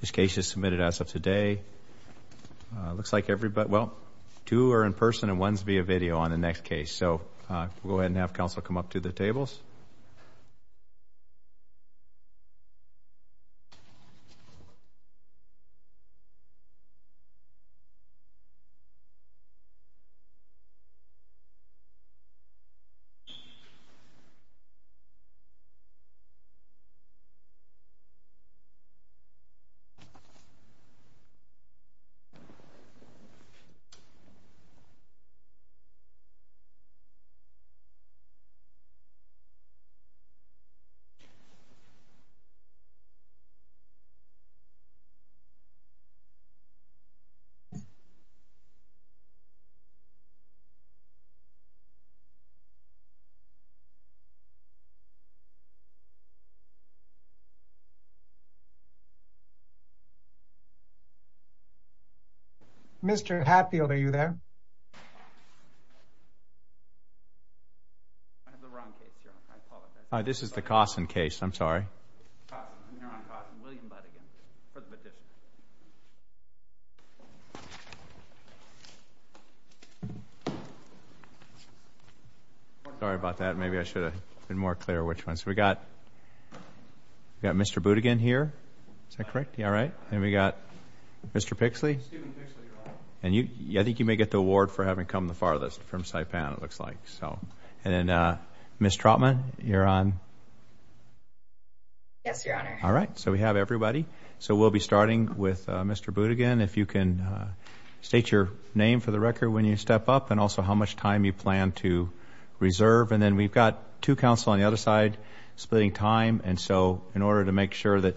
This case is submitted as of today. Looks like everybody, well two are in person and ones be a video on the next case. So we'll go ahead and have counsel come up to the tables. Mr. Hatfield, are you there? This is the Kossen case. I'm sorry. Sorry about that. Maybe I should have been more clear which ones. We've got Mr. Boudigin here. Is that correct? Then we've got Mr. Pixley. I think you may get the award for having come the farthest from Saipan, it looks like. Ms. Trotman, you're on. So we have everybody. So we'll be starting with Mr. Boudigin. If you can state your name for the record when you step up and also how much time you plan to reserve. And then we've got two counsel on the other side splitting time. And so in order to make sure that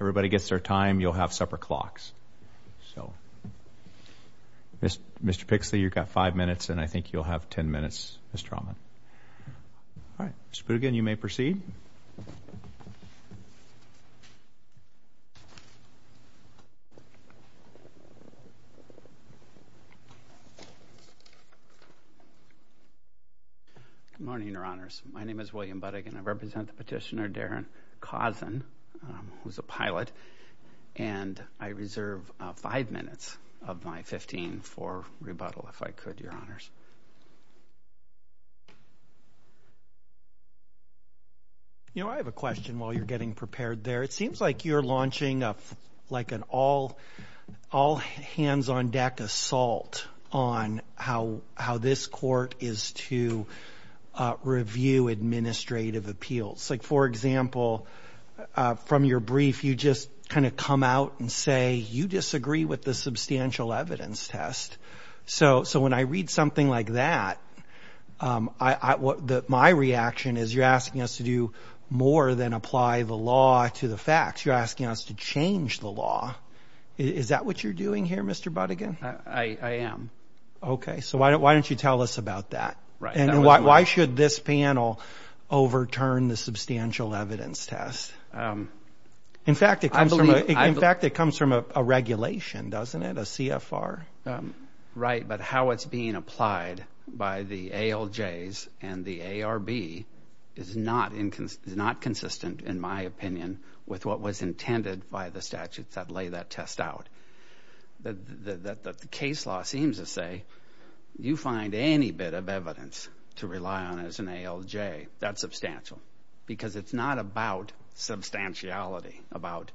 everybody gets their time, you'll have separate clocks. So Mr. Pixley, you've got five minutes and I think you'll have ten minutes, Ms. Trotman. All right. Mr. Boudigin, you may proceed. Good morning, Your Honors. My name is William Boudigin. I represent the petitioner, Darin Cosson, who's a pilot. And I reserve five minutes of my 15 for rebuttal, if I could, Your Honors. You know, I have a question while you're getting prepared there. It seems like you're launching up like an all, all hands on deck assault on how, how this court is to review administrative appeals. Like, for example, from your brief, you just kind of come out and say you disagree with the substantial evidence test. So, so when I read something like that, I, what my reaction is, you're asking us to do more than apply the law to the facts. You're asking us to change the law. Is that what you're doing here, Mr. Boudigin? I am. Okay. So why don't, why don't you tell us about that? And why should this panel overturn the substantial evidence test? In fact, it comes from, in fact, it comes from a regulation, doesn't it? A CFR. Right. But how it's being applied by the ALJs and the ARB is not inconsistent, in my opinion, with what was intended by the statutes that lay that test out. The, the, the case law seems to say, you find any bit of evidence to rely on as an ALJ, that's substantial. Because it's not about substantiality, about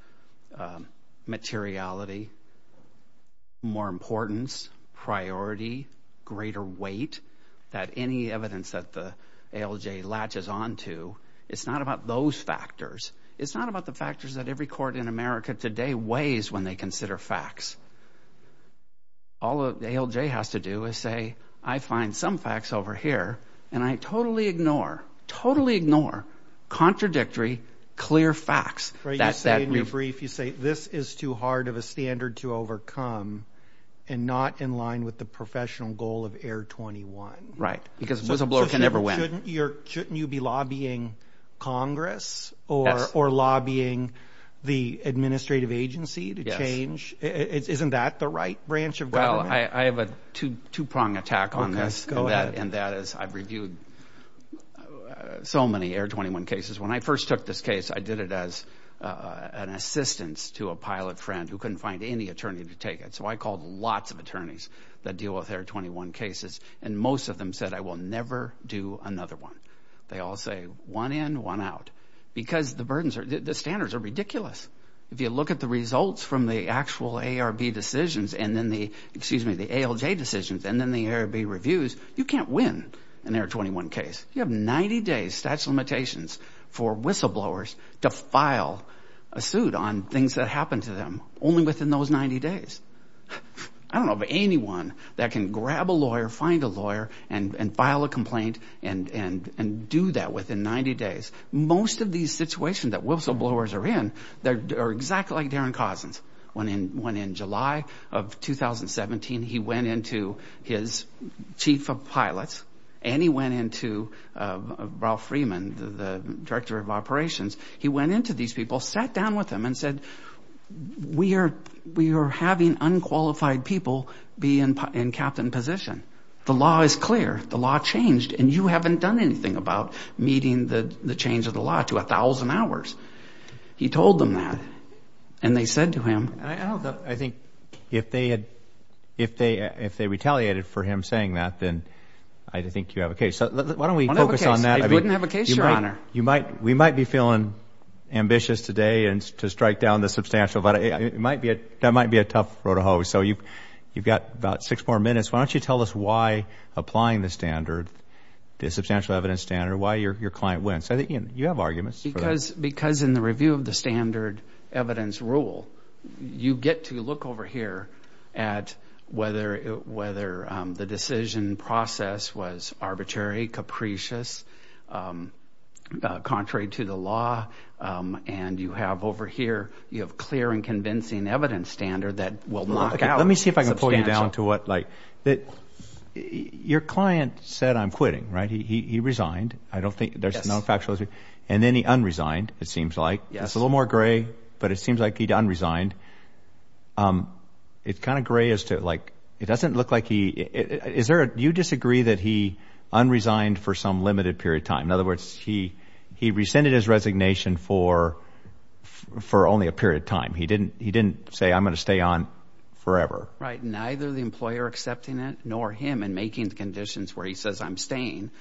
materiality, more importance, priority, greater weight, that any evidence that the ALJ latches onto, it's not about those factors. It's not about the factors that every court in America today weighs when they consider facts. All the ALJ has to do is say, I find some facts over here, and I totally ignore, totally ignore contradictory clear facts. Right, you say in your brief, you say, this is too hard of a standard to overcome, and not in line with the professional goal of Air 21. Right, because whistleblower can never win. Shouldn't you be lobbying Congress, or lobbying the administrative agency to change? Isn't that the right branch of government? Well, I have a two-prong attack on this, and that is, I've reviewed so many Air 21 cases. When I first took this case, I did it as an assistance to a pilot friend who couldn't find any attorney to take it. So I called lots of attorneys that deal with Air 21 cases, and most of them said, I will never do another one. They all say, one in, one out. Because the standards are ridiculous. If you look at the results from the actual ARB decisions, and then the ALJ decisions, and then the ARB reviews, you can't win an Air 21 case. You have 90 days statute of limitations for whistleblowers to file a suit on things that happened to them, only within those 90 days. I don't know of anyone that can grab a lawyer, find a lawyer, and file a complaint, and do that within 90 days. Most of these situations that whistleblowers are in, they're exactly like Darren Cousins. When in July of 2017, he went into his chief of pilots, and he went into Ralph Freeman, the director of operations. He went into these people, sat down with them, and said, we are having unqualified people be in captain position. The law is clear. The law changed, and you haven't done anything about meeting the change of the law to a thousand hours. He told them that, and they said to him. I think if they retaliated for him saying that, then I think you have a case. Why don't we focus on that? I wouldn't have a case, your honor. We might be feeling ambitious today to strike down the substantial, but it might be a tough road to hoe. You've got about six more minutes. Why don't you tell us why applying the standard, the substantial evidence standard, why your client wins? You have arguments. Because in the review of the standard evidence rule, you get to look over here at whether the decision process was arbitrary, capricious, contrary to the law, and you have over here, you have clear and convincing evidence standard that will knock out. Let me see if I can pull you down to what, like, that your client said I'm quitting, right? He resigned. I don't think, there's no factual, and then he unresigned, it seems like. It's a little more gray, but it seems like he unresigned. It's kind of gray as to, like, it doesn't look like he, is there a, do you disagree that he unresigned for some limited period of time? In other words, he, he rescinded his resignation for, for only a period of time. He didn't, he didn't say I'm gonna stay on forever. Right, neither the employer accepting it, nor him, and making the conditions where he says I'm staying,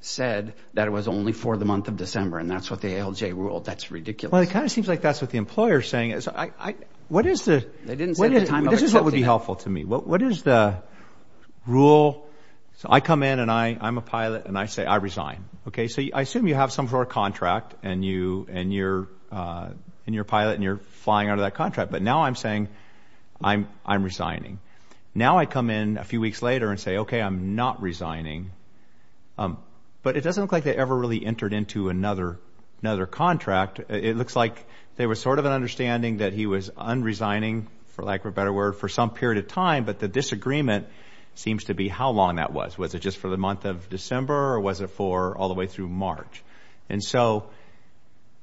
said that it was only for the month of December, and that's what the ALJ rule, that's ridiculous. Well, it kind of seems like that's what the employer's saying. I, I, what is the, this is what would be helpful to me. What, what is the rule, so I come in, and I, I'm a pilot, and I say I resign. Okay, so I assume you have some sort of contract, and you, and you're, and you're a pilot, and you're flying out of that contract, but now I'm saying I'm, I'm resigning. Now I come in a few weeks later and say, okay, I'm not resigning, but it doesn't look like they ever really entered into another, another contract. It looks like there was sort of an understanding that he was unresigning, for lack of a better word, for some period of time, but the disagreement seems to be how long that was. Was it just for the month of December, or was it for all the way through March? And so,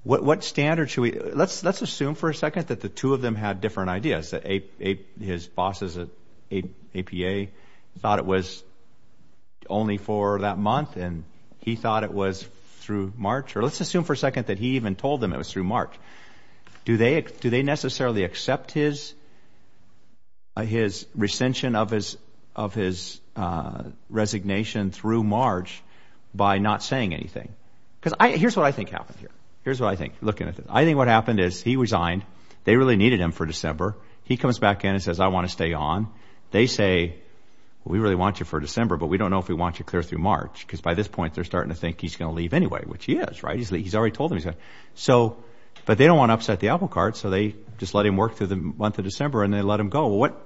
what, what standard should we, let's, let's assume for a second that the two of them had different ideas, that A, A, his bosses at APA thought it was only for that month, and he thought it was through March, or let's assume for a second that he even told them it was through March. Do they, do they necessarily accept his, his recension of his, of his resignation through March by not saying anything? Because I, here's what I think happened here. Here's what I think, looking at this. I think what happened is he resigned. They really needed him for December. He comes back in and says, I want to stay on. They say, we really want you for December, but we don't know if we want you clear through March, because by this point, they're starting to think he's going to leave anyway, which he is, right? He's, he's already told them he's going to. So, but they don't want to upset the apple cart, so they just let him work through the month of December, and they let him go. What,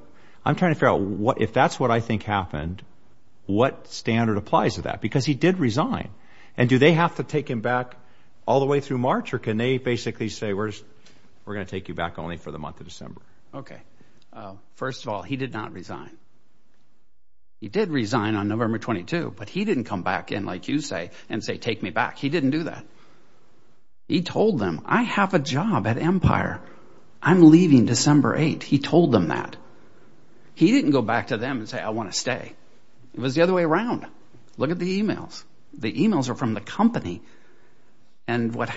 I'm trying to figure out what, if that's what I think happened, what standard applies to that? Because he did resign. And do they have to take him back all the way through March, or can they basically say, we're just, we're going to take you back only for the month of December? Okay. First of all, he did not resign. He did resign on November 22, but he didn't come back in, like you say, and say, take me back. He didn't do that. He told them, I have a job at Empire. I'm leaving December 8. He told them that. He didn't go back to them and say, I want to stay. It was the other way around. Look at the emails. The emails are from the company. And what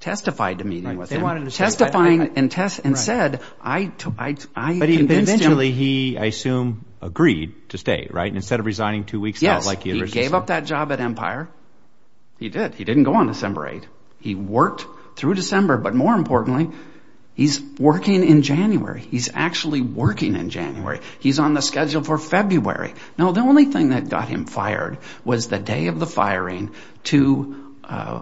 testified to meeting with him, testifying and test and said, I took, I convinced him. Eventually, he, I assume, agreed to stay, right? Instead of resigning two weeks out, like he originally said. Yes, he gave up that job at Empire. He did. He didn't go on December 8. He worked through December. But more importantly, he's working in January. He's actually working in January. He's on the schedule for February. Now, the only thing that got him fired was the day of the firing, two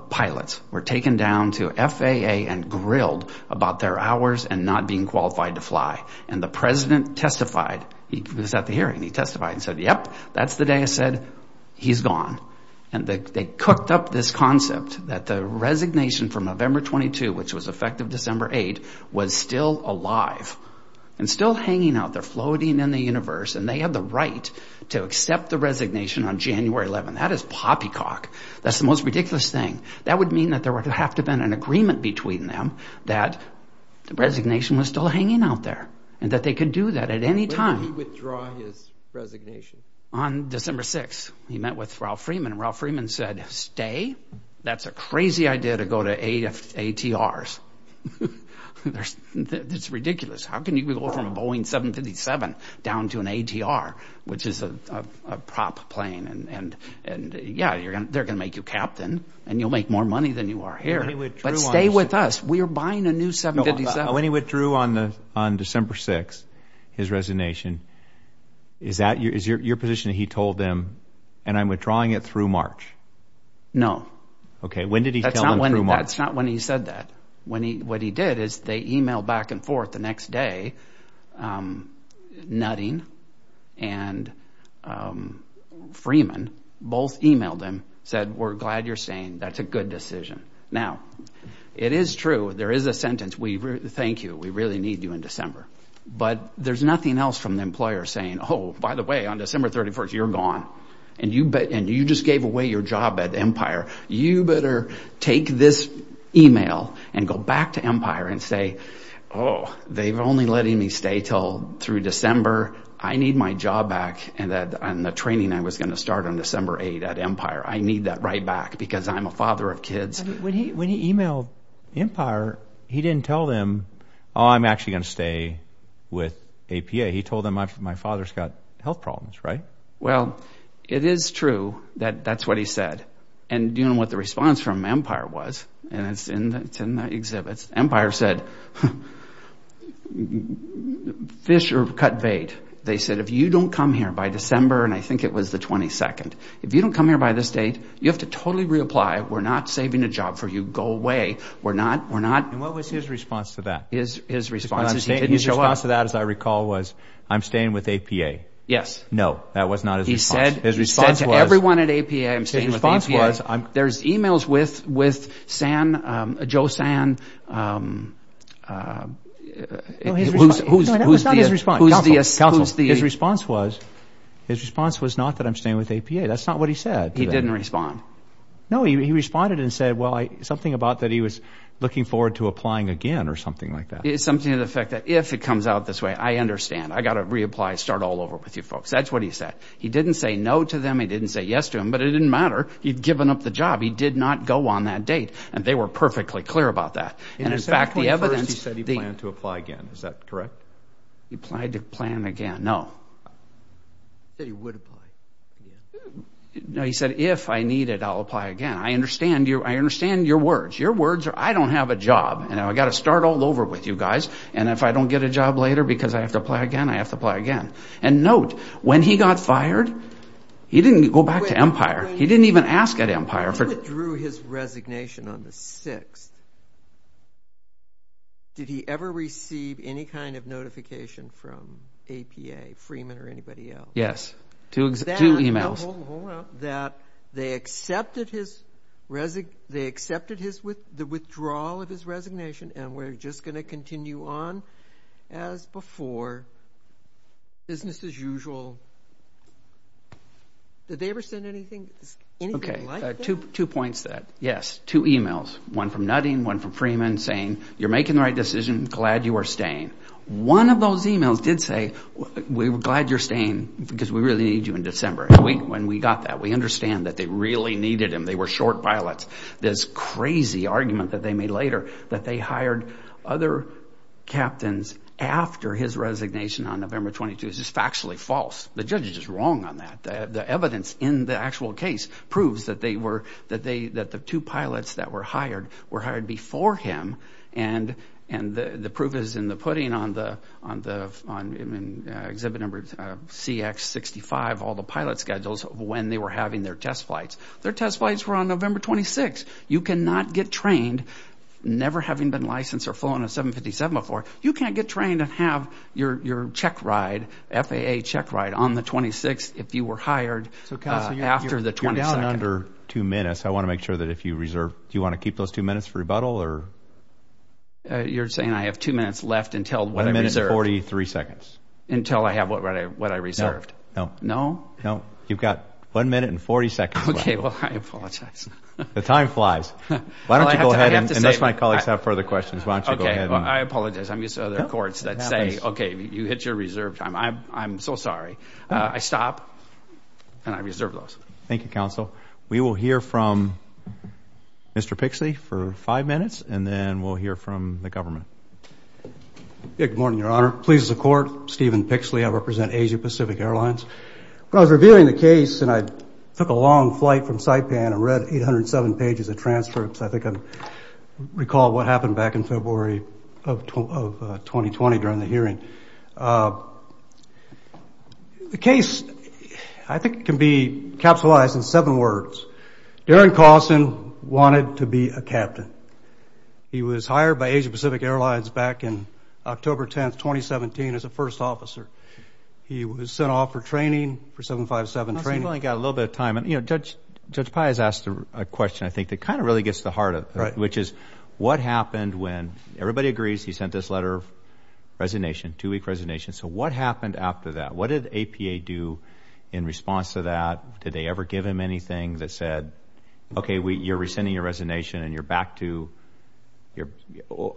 pilots were taken down to FAA and grilled about their hours and not being qualified to fly. And the president testified. He was at the hearing. He testified and said, yep, that's the day I said, he's gone. And they cooked up this concept that the resignation from November 22, which was effective December 8, was still alive and still hanging out. They're that is poppycock. That's the most ridiculous thing. That would mean that there would have to have been an agreement between them that the resignation was still hanging out there and that they could do that at any time. When did he withdraw his resignation? On December 6, he met with Ralph Freeman. Ralph Freeman said, stay. That's a crazy idea to go to ATRs. It's ridiculous. How can you go from a Yeah, you're going to they're going to make you captain and you'll make more money than you are here. But stay with us. We are buying a new 757. When he withdrew on the on December 6, his resignation, is that your position that he told them and I'm withdrawing it through March? No. Okay, when did he tell them through March? That's not when he said that. When he what he did is they email back and forth the next day. Nutting and Freeman both emailed him said, we're glad you're saying that's a good decision. Now, it is true. There is a sentence we thank you, we really need you in December. But there's nothing else from the email and go back to Empire and say, Oh, they've only letting me stay till through December. I need my job back. And that on the training, I was going to start on December 8 at Empire. I need that right back because I'm a father of kids. When he when he emailed Empire, he didn't tell them, I'm actually going to stay with APA. He told them I've my father's got health problems, right? Well, it is true that that's what he said. And you know what the response from Empire was, and it's in the exhibits. Empire said, Fisher cut bait. They said, if you don't come here by December, and I think it was the 22nd, if you don't come here by this date, you have to totally reapply. We're not saving a job for you. Go away. We're not we're not. And what was his response to that? His his response is he didn't show up. His response to that, as I recall, was, I'm staying with APA. Yes. No, that was not his. He said his response to everyone at APA. I'm staying with APA. There's emails with with San, Joe San. Who's who's the response was, his response was not that I'm staying with APA. That's not what he said. He didn't respond. No, he responded and said, well, I something about that. He was looking forward to applying again or something like that. It's something to the effect that if it comes out this way, I understand. I got to reapply, start all over with you folks. That's what he said. He didn't say no to them. He didn't say yes to him, but it didn't matter. He'd given up the job. He did not go on that date. And they were perfectly clear about that. And in fact, the evidence said he planned to apply again. Is that correct? He applied to plan again. No, he said he would. No, he said, if I need it, I'll apply again. I understand you. I understand your words. Your words are I don't have a job. And I've got to start all over with you guys. And if I don't get a job later because I have to apply again, I have to apply again. And note, when he got fired, he didn't go back to Empire. He didn't even ask at Empire. He withdrew his resignation on the 6th. Did he ever receive any kind of notification from APA, Freeman or anybody else? Yes, two emails. That they accepted the withdrawal of his resignation. And we're just going to continue on as before. Business as usual. Did they ever send anything? OK, two points that. Yes, two emails, one from Nutting, one from Freeman saying, you're making the right decision. Glad you are staying. One of those emails did say, we were glad you're staying because we really need you in December. When we got that, we understand that they really needed him. They were short pilots. This crazy argument that they made later that they hired other captains after his resignation on November 22 is just factually false. The judge is just wrong on that. The evidence in the actual case proves that they were that they that the two pilots that were hired were hired before him. And and the proof is in the pudding on the on the on exhibit number CX 65, all the pilot schedules when they were having their test flights. Their test flights were on November 26. You cannot get trained, never having been licensed or flown a 757 before. You can't get trained and have your check ride, FAA check ride on the 26th if you were hired after the 22nd. So you're down under two minutes. I want to make sure that if you reserve, do you want to keep those two minutes for rebuttal or? You're saying I have two minutes left until one minute, 43 seconds until I have what I what I reserved. No, no, no. You've got one minute and 40 seconds. OK, well, I apologize. The time flies. Why don't you go ahead and let my colleagues have further questions. Why don't you go ahead? I apologize. I mean, so there are courts that say, OK, you hit your reserve time. I'm I'm so sorry. I stop and I reserve those. Thank you, counsel. We will hear from Mr. Pixley for five minutes and then we'll hear from the government. Good morning, Your Honor. Please, the court, Stephen Pixley. I represent Asia Pacific Airlines. But I was reviewing the case and I took a long flight from Saipan and read 807 pages of transcripts. I think I recall what happened back in February of 2020 during the hearing. The case, I think, can be capitalized in seven words. Darren Carlson wanted to be a captain. He was hired by Asia Pacific Airlines back in October 10th, 2017, as a first officer. He was sent off for training for seven, five, seven training, got a little bit of time. And, you know, Judge Pai has asked a question, I think, that kind of really gets the heart of it, which is what happened when? Everybody agrees he sent this letter of resignation, two week resignation. So what happened after that? What did APA do in response to that? Did they ever give him anything that said, OK, you're rescinding your resignation and you're back to your,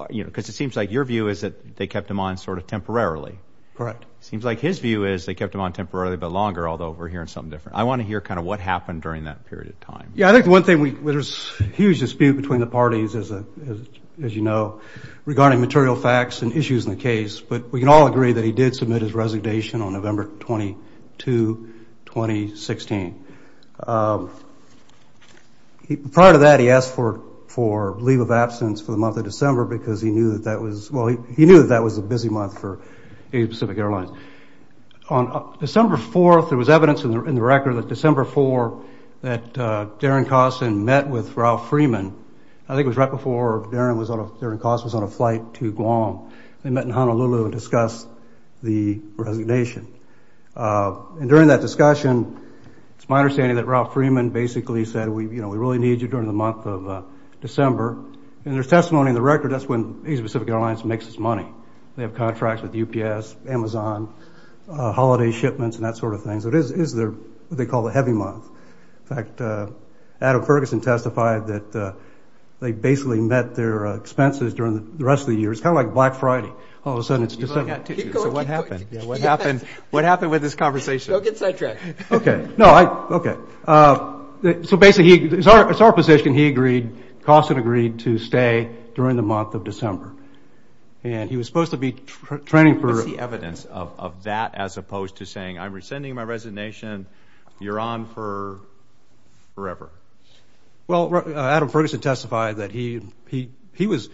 you know, because it seems like your view is that they kept him on sort of temporarily. Correct. Seems like his view is they kept him on temporarily, but longer, although we're hearing something different. I want to hear kind of what happened during that period of time. Yeah, I think the one thing we there's a huge dispute between the parties, as you know, regarding material facts and issues in the case. But we can all agree that he did submit his resignation on November 22, 2016. Prior to that, he asked for for leave of absence for the month of December because he knew that that was well, he knew that that was a busy month for Pacific Airlines. On December 4th, there was evidence in the record that December 4, that Darren Costin met with Ralph Freeman. I think it was right before Darren Costin was on a flight to Guam. They met in Honolulu and discussed the resignation. And during that discussion, it's my understanding that Ralph Freeman basically said, we, you know, we really need you during the month of December. And there's testimony in the record that's when East Pacific Airlines makes its money. They have contracts with UPS, Amazon, holiday shipments and that sort of thing. So it is what they call a heavy month. In fact, Adam Ferguson testified that they basically met their expenses during the rest of the year. It's kind of like Black Friday. All of a sudden, it's December. So what happened? What happened? What happened with this conversation? Go get sidetracked. Okay. No. Okay. So basically, it's our it's our position. He agreed. Costin agreed to stay during the month of December. And he was supposed to be training for the evidence of that, as opposed to saying, I'm rescinding my resignation. You're on for forever. Well, Adam Ferguson testified that he he he was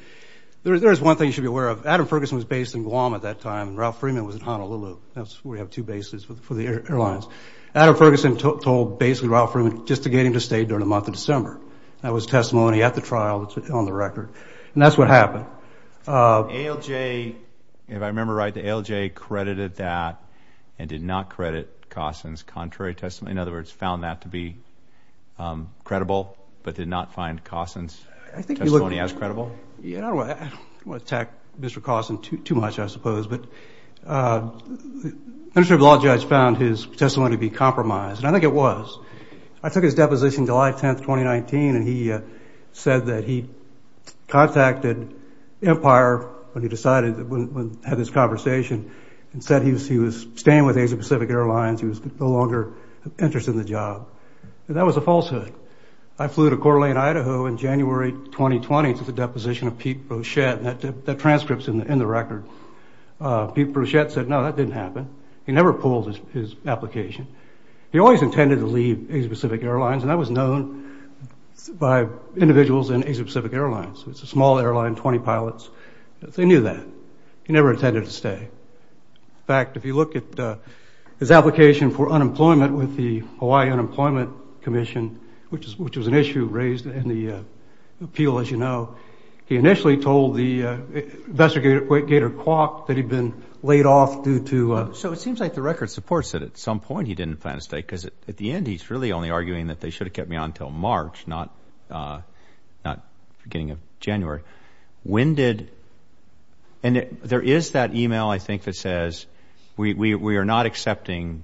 there. There's one thing you should be aware of. Adam Ferguson was based in Guam at that time. Ralph Freeman was in Honolulu. That's where you have two bases for the airlines. Adam Ferguson told basically Ralph Freeman just to get him to stay during the month of December. That was testimony at the trial that's on the record. And that's what happened. ALJ, if I remember right, the ALJ credited that and did not credit Costin's contrary testimony. In other words, found that to be credible, but did not find Costin's testimony as credible. Yeah. I don't want to attack Mr. Costin too much, I suppose. But the Ministry of Law judge found his testimony to be compromised. And I think it was. I took his deposition July 10th, 2019. And he said that he contacted Empire when he decided to have this conversation and said he was he was staying with Asia Pacific Airlines. He was no longer interested in the job. That was a falsehood. I flew to Coeur d'Alene, Idaho in January 2020 to the deposition of Pete Brochette. That transcript's in the record. Pete Brochette said, no, that didn't happen. He never pulled his application. He always intended to leave Asia Pacific Airlines. And that was known by individuals in Asia Pacific Airlines. It's a small airline, 20 pilots. They knew that. He never intended to stay. In fact, if you look at his application for unemployment with the Hawaii Unemployment Commission, which is which was an issue raised in the appeal, as you know, he initially told the investigator Gator Kwok that he'd been laid off due to. So it seems like the record supports that at some point he didn't plan to stay because at the end, he's really only arguing that they should have kept me on until March, not beginning of January. When did and there is that email, I think, that says we are not accepting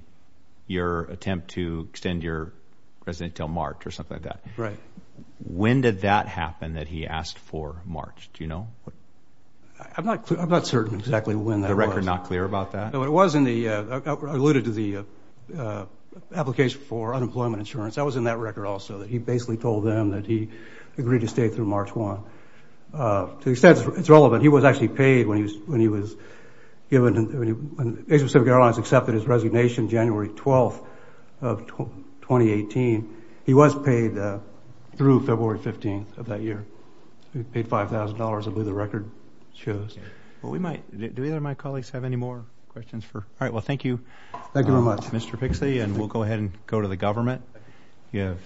your attempt to extend your residency until March or something like that. Right. When did that happen that he asked for March? Do you know? I'm not I'm not certain exactly when the record not clear about that. No, it was in the alluded to the application for unemployment insurance. That was in that record also that he basically told them that he agreed to stay through March one. To the extent it's relevant, he was actually paid when he was when he was given when Pacific Airlines accepted his resignation January 12th of 2018. He was paid through February 15th of that year. He paid five thousand dollars. I believe the record shows. Well, we might do either. My colleagues have any more questions for. All right. Well, thank you. Thank you very much, Mr. Pixley. And we'll go ahead and go to the government. You have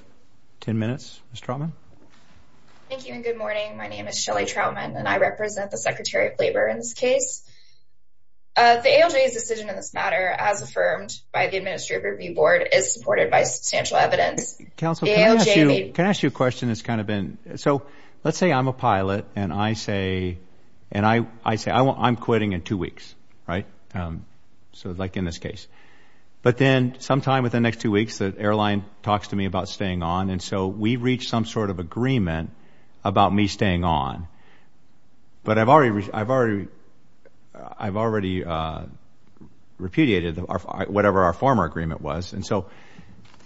10 minutes. Mr. Trotman. Thank you. And good morning. My name is Shelly Troutman and I represent the secretary of labor in this case. The ALJ's decision in this matter, as affirmed by the Administrative Review Board, is supported by substantial evidence. Counselor, can I ask you a question? It's kind of been so let's say I'm a pilot and I say and I say I'm quitting in two weeks. Right. So like in this case, but then sometime within the next two weeks, the airline talks to me about staying on. And so we reach some sort of agreement about me staying on. But I've already I've already I've already repudiated whatever our former agreement was. And so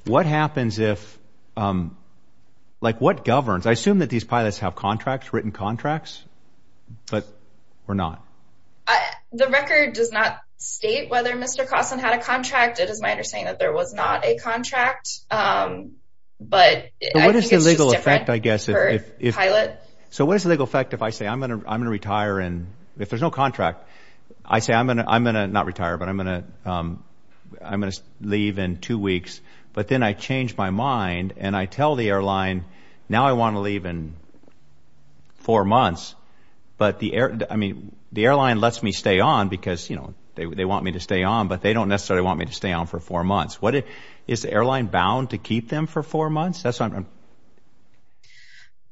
what happens if like what governs? I assume that these pilots have contracts, written contracts, but we're not. The record does not state whether Mr. Carson had a contract. It is my understanding that there was not a contract. But what is the legal effect, I guess, if pilot. So what is the legal effect if I say I'm going to I'm going to retire and if there's no contract, I say I'm going to I'm going to not retire, but I'm going to I'm going to leave in two weeks. But then I change my mind and I tell the airline now I want to leave in four months. But the I mean, the airline lets me stay on because, you know, they want me to stay on, but they don't necessarily want me to stay on for four months. What is the airline bound to keep them for four months? That's what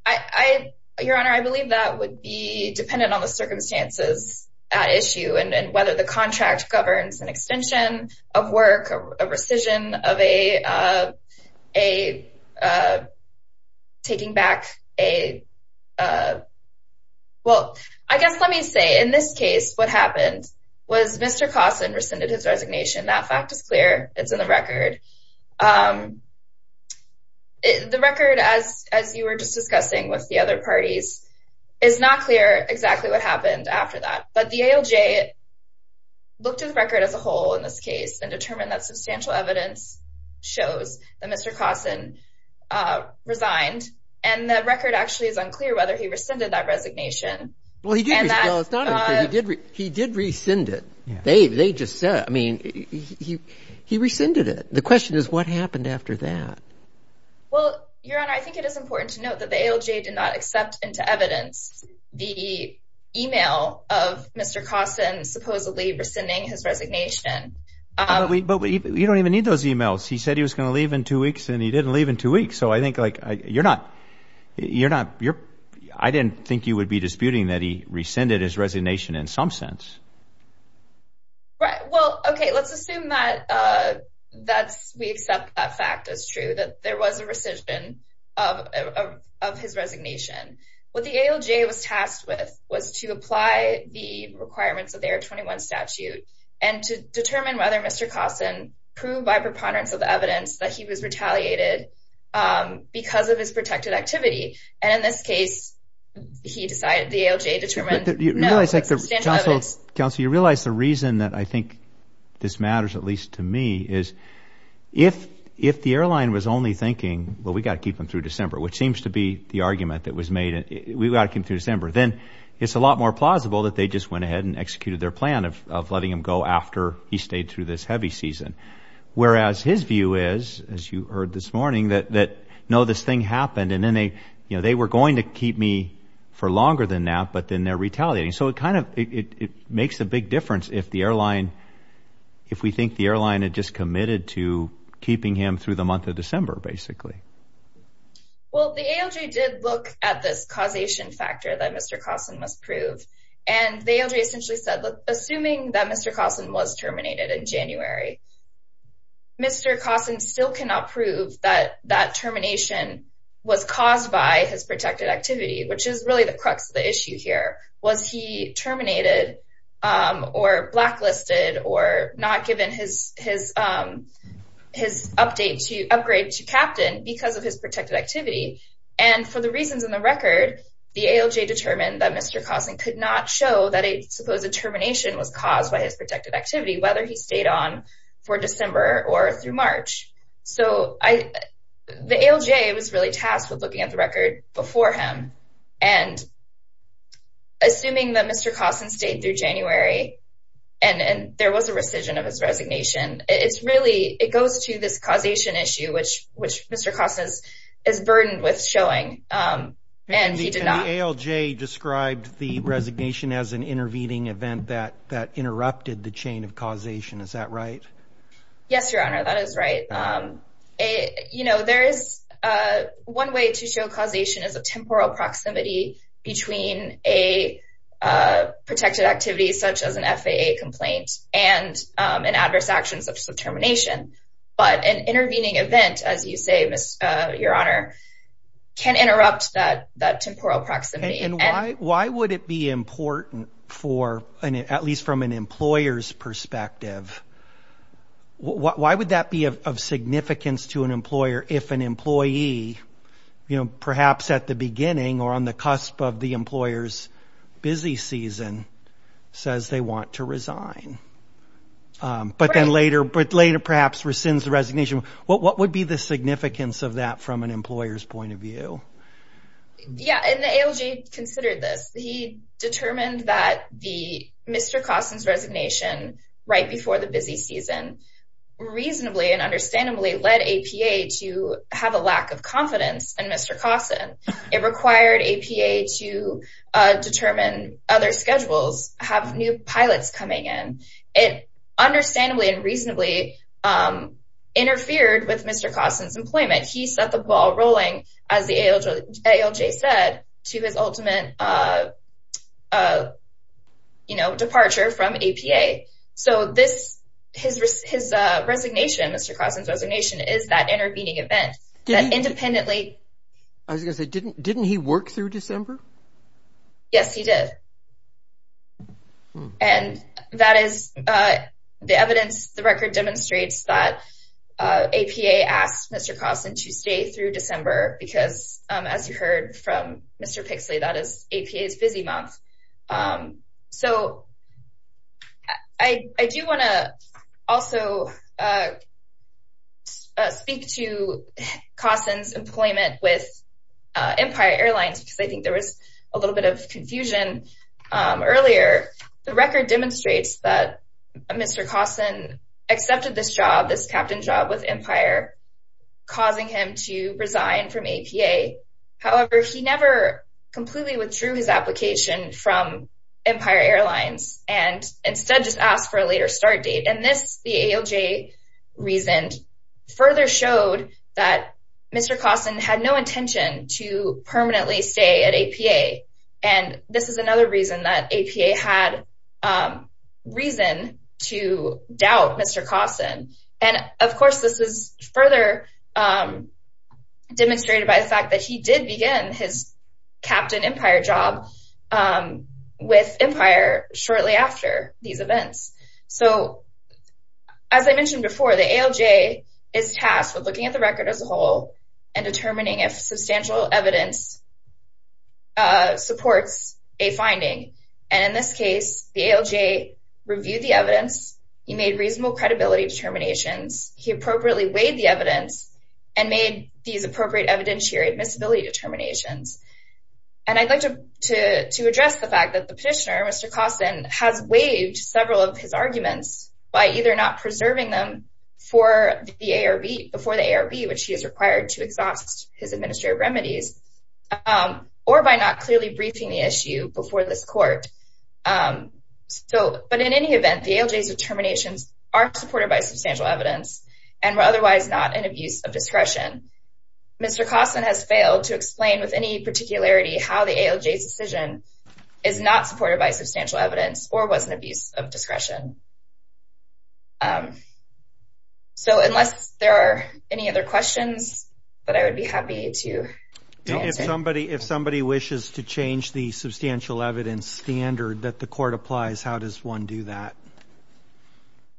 I. Your Honor, I believe that would be dependent on the circumstances at issue and whether the contract governs an extension of work, a rescission of a a taking back a. Well, I guess let me say in this case, what happened was Mr. Carson rescinded his resignation. That fact is clear. It's in the record. The record, as as you were just discussing with the other parties, is not clear exactly what happened after that. But the ALJ looked at the record as a whole in this case and determined that substantial evidence shows that Mr. Carson resigned and that record actually is unclear whether he rescinded that resignation. Well, he did. He did. He did rescind it. They they just said, I mean, he he rescinded it. The question is, what happened after that? Well, Your Honor, I think it is important to note that the ALJ did not accept into evidence the email of Mr. Carson supposedly rescinding his resignation. But you don't even need those emails. He said he was going to leave in two weeks and he didn't leave in two weeks. So I think like you're not you're not you're I didn't think you would be disputing that he rescinded his resignation in some sense. Right. Well, OK, let's assume that that's we accept that fact is true, that there was a rescission of of his resignation. What the ALJ was tasked with was to apply the requirements of their twenty one statute and to determine whether Mr. Carson proved by preponderance of the evidence that he was retaliated because of his protected activity. And in this case, he decided the ALJ determined that you know, it's like the Johnson's Council. You realize the reason that I think this matters, at least to me, is if if the airline was only thinking, well, we've got to keep them through December, which seems to be the argument that was made. We've got to come through December. Then it's a lot more plausible that they just went ahead and executed their plan of letting him go after he stayed through this heavy season, whereas his view is, as you heard this morning, that that no, this thing happened. And then they you know, they were going to keep me for longer than that. But then they're retaliating. So it kind of it makes a big difference if the airline if we think the airline had just committed to keeping him through the month of December, basically. Well, the ALJ did look at this causation factor that Mr. Carson must prove, and they essentially said, look, assuming that Mr. Carson was terminated in January, Mr. Carson still cannot prove that that termination was caused by his protected activity, which is really the crux of the issue here. Was he terminated or blacklisted or not given his his his update to upgrade to captain because of his protected activity? And for the reasons in the record, the ALJ determined that Mr. Carson could not show that a supposed termination was caused by his protected activity, whether he stayed on for December or through March. So the ALJ was really tasked with looking at the record before him. And. Assuming that Mr. Carson stayed through January and there was a rescission of his resignation, it's really it goes to this causation issue, which which Mr. Carson is burdened with showing and he did not ALJ described the resignation as an intervening event that that interrupted the chain of causation. Is that right? Yes, your honor, that is right. And, you know, there is one way to show causation is a temporal proximity between a protected activity such as an FAA complaint and an adverse action such as termination. But an intervening event, as you say, your honor, can interrupt that that temporal proximity. And why why would it be important for an at least from an employer's perspective? Why would that be of significance to an employer if an employee, you know, perhaps at the beginning or on the cusp of the employer's busy season says they want to resign? But then later, but later perhaps rescinds the resignation. What what would be the significance of that from an employer's point of view? Yeah. And the ALJ considered this. He determined that the Mr. Carson's resignation right before the busy season reasonably and understandably led APA to have a lack of confidence in Mr. Carson. It required APA to determine other schedules, have new pilots coming in. It understandably and reasonably interfered with Mr. Carson's employment. He set the ball rolling, as the ALJ said, to his ultimate, you know, departure from APA. So this his his resignation, Mr. Carson's resignation is that intervening event that independently. I was going to say, didn't didn't he work through December? Yes, he did. And that is the evidence. The record demonstrates that APA asked Mr. Carson to stay through December because, as you heard from Mr. Pixley, that is APA's busy month. So I do want to also speak to Carson's employment with Empire Airlines because I think there was a little bit of confusion earlier. The record demonstrates that Mr. Carson accepted this job, this captain job with Empire, causing him to resign from APA. However, he never completely withdrew his application from Empire Airlines and instead just asked for a later start date. And this, the ALJ reasoned, further showed that Mr. Carson had no intention to permanently stay at APA. And this is another reason that APA had reason to doubt Mr. Carson. And of course, this was further demonstrated by the fact that he did begin his Captain Empire job with Empire shortly after these events. So as I mentioned before, the ALJ is tasked with looking at the record as a whole and determining if substantial evidence. Supports a finding. And in this case, the ALJ reviewed the evidence. He made reasonable credibility determinations. He appropriately weighed the evidence and made these appropriate evidentiary admissibility determinations. And I'd like to to to address the fact that the petitioner, Mr. Carson, has waived several of his arguments by either not preserving them for the ARB before the ARB, which he is required to exhaust his administrative remedies, or by not clearly briefing the issue before this court. So, but in any event, the ALJ's determinations are supported by substantial evidence and were otherwise not an abuse of discretion. Mr. Carson has failed to explain with any particularity how the ALJ's decision is not supported by substantial evidence or was an abuse of discretion. So unless there are any other questions that I would be happy to answer. If somebody if somebody wishes to change the substantial evidence standard that the court applies, how does one do that?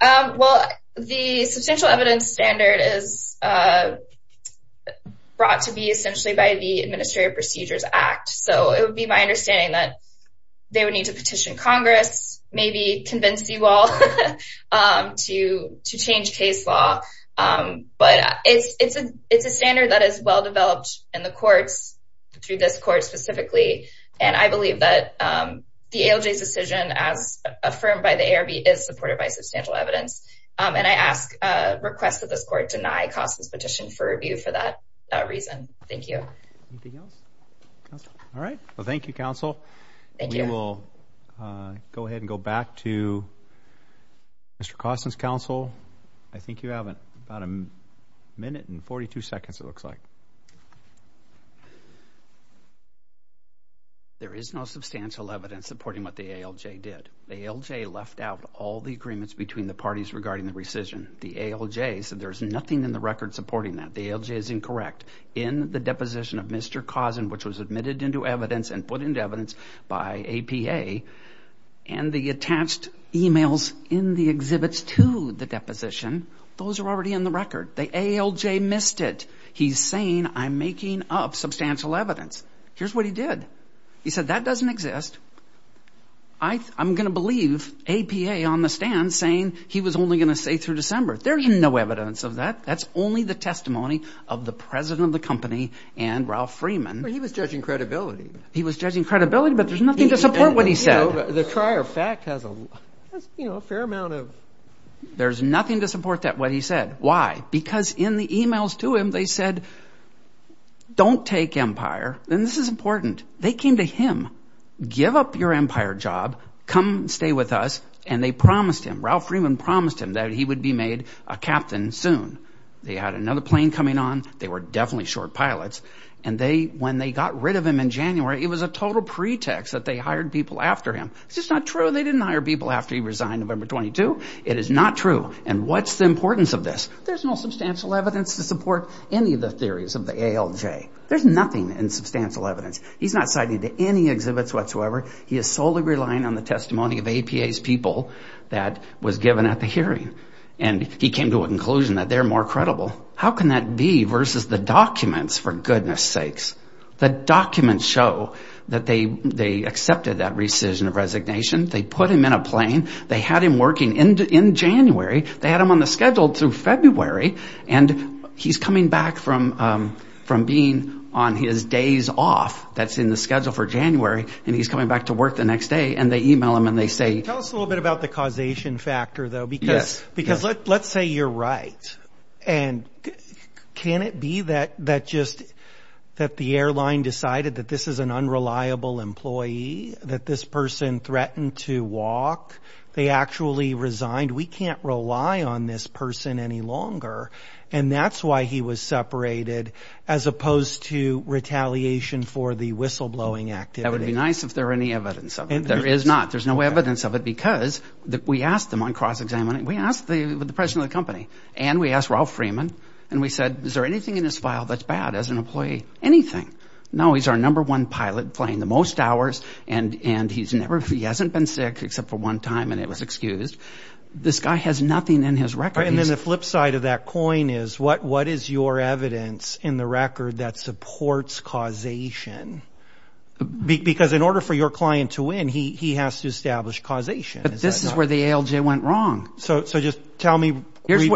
Well, the substantial evidence standard is brought to be essentially by the Administrative Procedures Act. So it would be my understanding that they would need to petition Congress, maybe convince you all to to change case law. But it's a it's a standard that is well developed in the courts through this court specifically. And I believe that the ALJ's decision, as affirmed by the ARB, is supported by substantial evidence. And I ask, request that this court deny Carson's petition for review for that reason. Thank you. All right. Well, thank you, counsel. We will go ahead and go back to Mr. Carson's counsel. I think you have about a minute and 42 seconds, it looks like. There is no substantial evidence supporting what the ALJ did. The ALJ left out all the agreements between the parties regarding the rescission. The ALJ said there's nothing in the record supporting that. The ALJ is incorrect in the deposition of Mr. Carson, which was admitted into evidence and put into evidence by APA and the attached emails in the exhibits to the deposition. Those are already in the record. The ALJ missed it. He's saying I'm making up substantial evidence. Here's what he did. He said that doesn't exist. I I'm going to believe APA on the stand saying he was only going to say through December there's no evidence of that. That's only the testimony of the president of the company and Ralph Freeman. He was judging credibility. He was judging credibility. But there's nothing to support what he said. The prior fact has a fair amount of. There's nothing to support that what he said. Why? Because in the emails to him, they said, don't take empire. And this is important. They came to him. Give up your empire job. Come stay with us. And they promised him Ralph Freeman promised him that he would be made a captain soon. They had another plane coming on. They were definitely short pilots. And they when they got rid of him in January, it was a total pretext that they hired people after him. It's just not true. They didn't hire people after he resigned. November 22. It is not true. And what's the importance of this? There's no substantial evidence to support any of the theories of the ALJ. There's nothing in substantial evidence. He's not citing to any exhibits whatsoever. He is solely relying on the testimony of APA's people that was given at the hearing. And he came to a conclusion that they're more credible. How can that be versus the documents? For goodness sakes. The documents show that they they accepted that rescission of resignation. They put him in a plane. They had him working in January. They had him on the schedule through February. And he's coming back from from being on his days off. That's in the schedule for January. And he's coming back to work the next day. And they email him and they say, tell us a little bit about the causation factor, though. Because because let's say you're right. And can it be that that just that the airline decided that this is an unreliable employee, that this person threatened to walk? They actually resigned. We can't rely on this person any longer. And that's why he was separated as opposed to retaliation for the whistleblowing activity. That would be nice if there any evidence of it. There is not. There's no evidence of it because we asked them on cross-examining. We asked the president of the company and we asked Ralph Freeman and we said, is there anything in his file that's bad as an employee? Anything? No, he's our number one pilot flying the most hours. And and he's never he hasn't been sick except for one time. And it was excused. This guy has nothing in his record. And then the flip side of that coin is what what is your evidence in the record that supports causation, because in order for your client to win, he he has to establish causation. But this is where the ALJ went wrong. So so just tell me what here's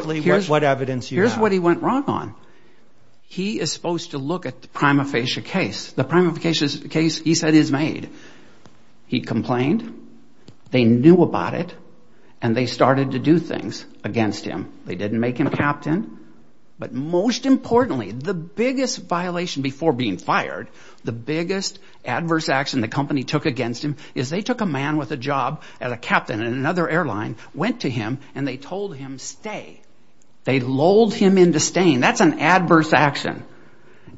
what evidence. Here's what he went wrong on. He is supposed to look at the prima facie case. The prima facie case, he said, is made. He complained. They knew about it and they started to do things against him. They didn't make him captain. But most importantly, the biggest violation before being fired, the biggest adverse action the company took against him is they took a man with a job as a captain in another airline, went to him and they told him stay. They lulled him into staying. That's an adverse action.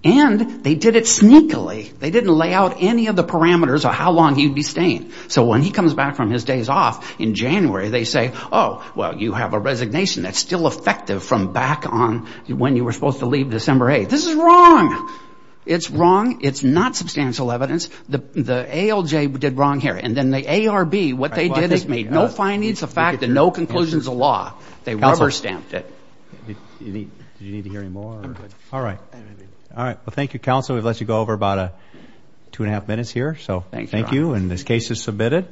And they did it sneakily. They didn't lay out any of the parameters of how long he'd be staying. So when he comes back from his days off in January, they say, oh, well, you have a resignation that's still effective from back on when you were supposed to leave December 8th. This is wrong. It's wrong. It's not substantial evidence. The ALJ did wrong here. And then the ARB, what they did is make no findings of fact and no conclusions of law. They rubber stamped it. Do you need to hear any more? All right. All right. Well, thank you, counsel. We've let you go over about two and a half minutes here. So thank you. And this case is submitted.